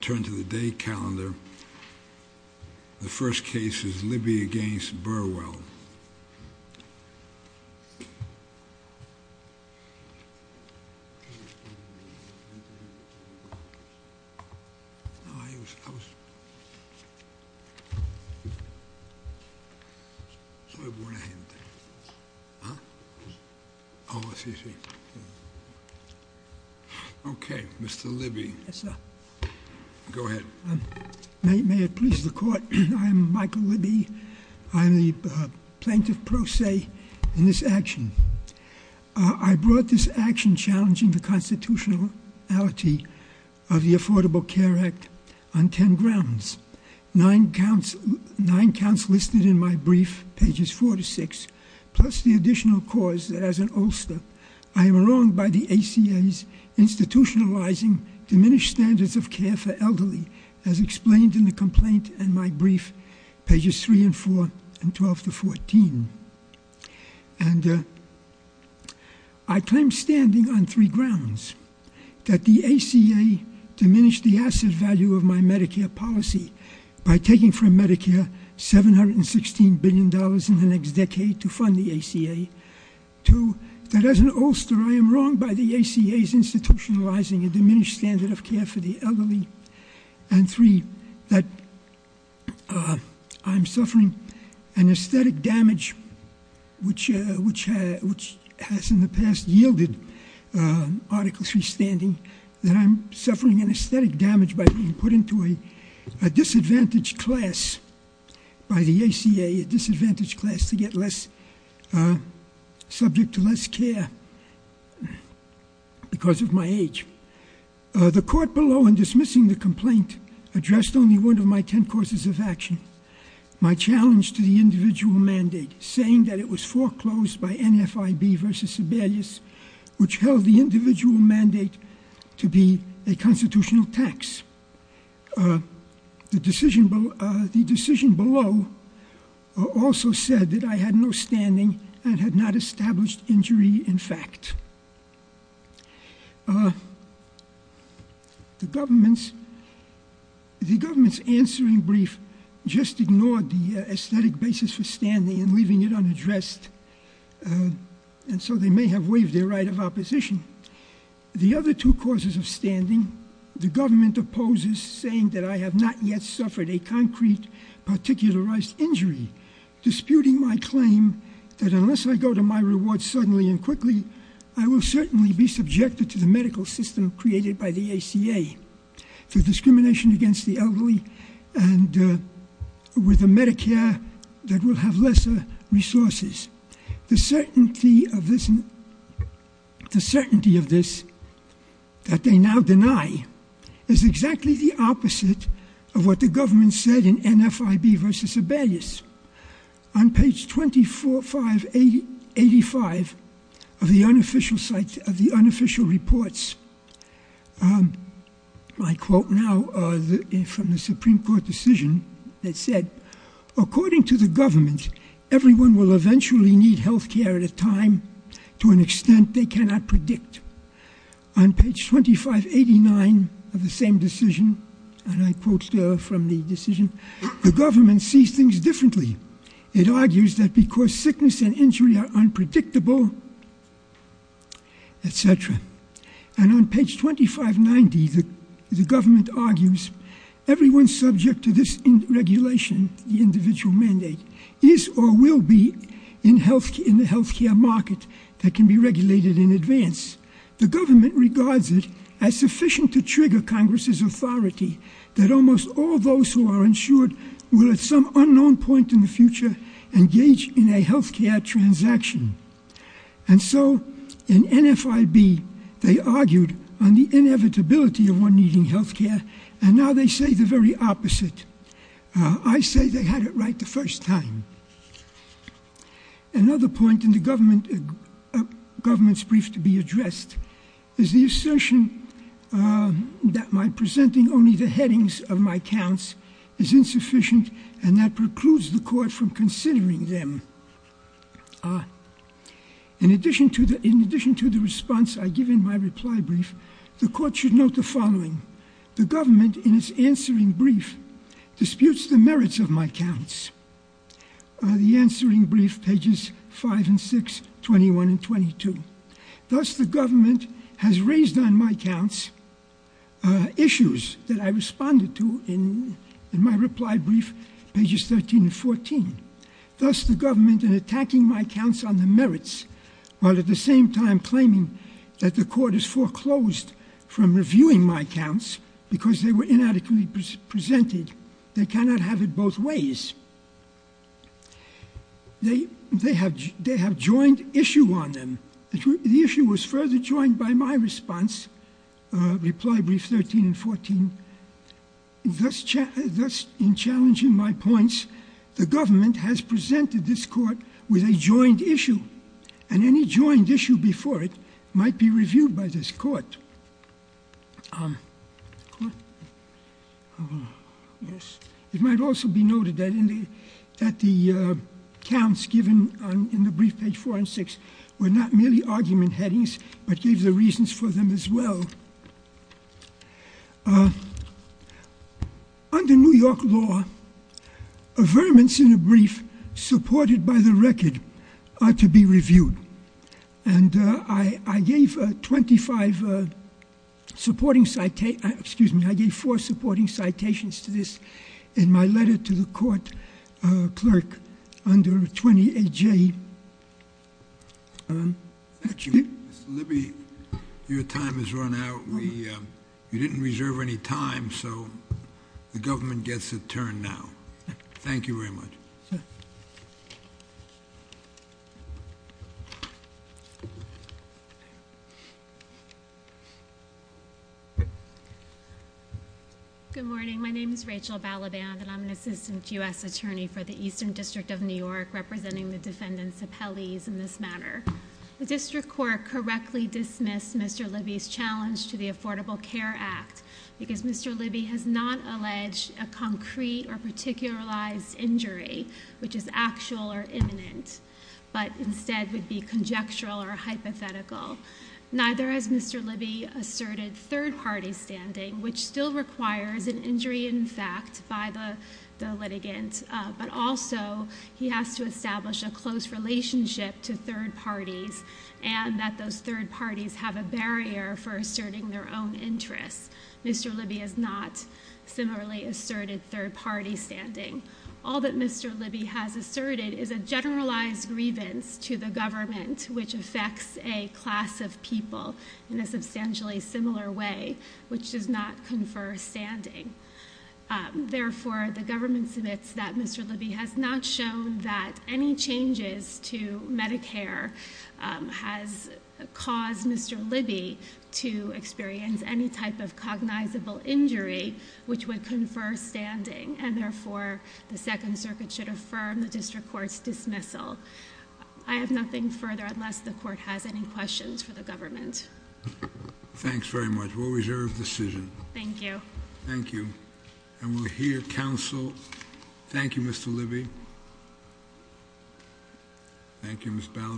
Turn to the day calendar. The first case is Libby v. Burwell. May it please the court, I am Michael Libby. I am the plaintiff pro se in this action. I brought this action challenging the constitutionality of the Affordable Care Act on ten grounds. Nine counts listed in my brief, pages four to six, plus the additional cause that as an ulster, I am wronged by the ACA's institutionalizing diminished standards of care for elderly, as explained in the complaint in my brief, pages three and four, and 12 to 14. And I claim standing on three grounds. That the ACA diminished the asset value of my Medicare policy by taking from Medicare $716 billion in the next decade to fund the ACA. Two, that as an ulster, I am wronged by the ACA's institutionalizing a diminished standard of care for the elderly. And three, that I'm suffering an aesthetic damage which has in the past yielded article three standing. That I'm suffering an aesthetic damage by being put into a disadvantaged class by the ACA, a disadvantaged class to get less, subject to less care because of my age. The court below in dismissing the complaint addressed only one of my ten causes of action. My challenge to the individual mandate, saying that it was foreclosed by NFIB v. Which held the individual mandate to be a constitutional tax. The decision below also said that I had no standing and had not established injury in fact. The government's answering brief just ignored the aesthetic basis for standing and leaving it unaddressed. And so they may have waived their right of opposition. The other two causes of standing, the government opposes saying that I have not yet suffered a concrete particularized injury. Disputing my claim that unless I go to my reward suddenly and quickly, I will certainly be subjected to the medical system created by the ACA. The discrimination against the elderly and with the Medicare that will have lesser resources. The certainty of this, that they now deny, is exactly the opposite of what the government said in NFIB v. On page 2585 of the unofficial reports, I quote now from the Supreme Court decision that said, according to the government, everyone will eventually need health care at a time to an extent they cannot predict. On page 2589 of the same decision, and I quote from the decision, the government sees things differently. It argues that because sickness and injury are unpredictable, etc. And on page 2590, the government argues, everyone subject to this regulation, the individual mandate, is or will be in the health care market that can be regulated in advance. The government regards it as sufficient to trigger Congress's authority that almost all those who are insured will, at some unknown point in the future, engage in a health care transaction. And so, in NFIB, they argued on the inevitability of one needing health care, and now they say the very opposite. I say they had it right the first time. Another point in the government's brief to be addressed is the assertion that my presenting only the headings of my counts is insufficient and that precludes the court from considering them. In addition to the response I give in my reply brief, the court should note the following. The government, in its answering brief, disputes the merits of my counts. The answering brief, pages 5 and 6, 21 and 22. Thus, the government has raised on my counts issues that I responded to in my reply brief, pages 13 and 14. Thus, the government, in attacking my counts on the merits, while at the same time claiming that the court has foreclosed from reviewing my counts because they were inadequately presented, they cannot have it both ways. They have joined issue on them. The issue was further joined by my response, reply brief 13 and 14. Thus, in challenging my points, the government has presented this court with a joined issue, and any joined issue before it might be reviewed by this court. It might also be noted that the counts given in the brief, pages 4 and 6, were not merely argument headings, but gave the reasons for them as well. Under New York law, affirmance in a brief supported by the record are to be reviewed. I gave four supporting citations to this in my letter to the court clerk under 20AJ. Thank you. Mr. Libby, your time has run out. You didn't reserve any time, so the government gets a turn now. Thank you very much. Good morning. My name is Rachel Balaban, and I'm an assistant U.S. attorney for the Eastern District of New York, representing the defendants appellees in this matter. The district court correctly dismissed Mr. Libby's challenge to the Affordable Care Act, because Mr. Libby has not alleged a concrete or particularized injury, which is actual or imminent, but instead would be conjectural or hypothetical. Neither has Mr. Libby asserted third-party standing, which still requires an injury in fact by the litigant, but also he has to establish a close relationship to third parties, and that those third parties have a barrier for asserting their own interests. Mr. Libby has not similarly asserted third-party standing. All that Mr. Libby has asserted is a generalized grievance to the government, which affects a class of people in a substantially similar way, which does not confer standing. Therefore, the government submits that Mr. Libby has not shown that any changes to Medicare has caused Mr. Libby to experience any type of cognizable injury, which would confer standing, and therefore the Second Circuit should affirm the district court's dismissal. I have nothing further, unless the court has any questions for the government. Thanks very much. We'll reserve the decision. Thank you. Thank you. And we'll hear counsel. Thank you, Mr. Libby. Thank you, Ms. Ballard.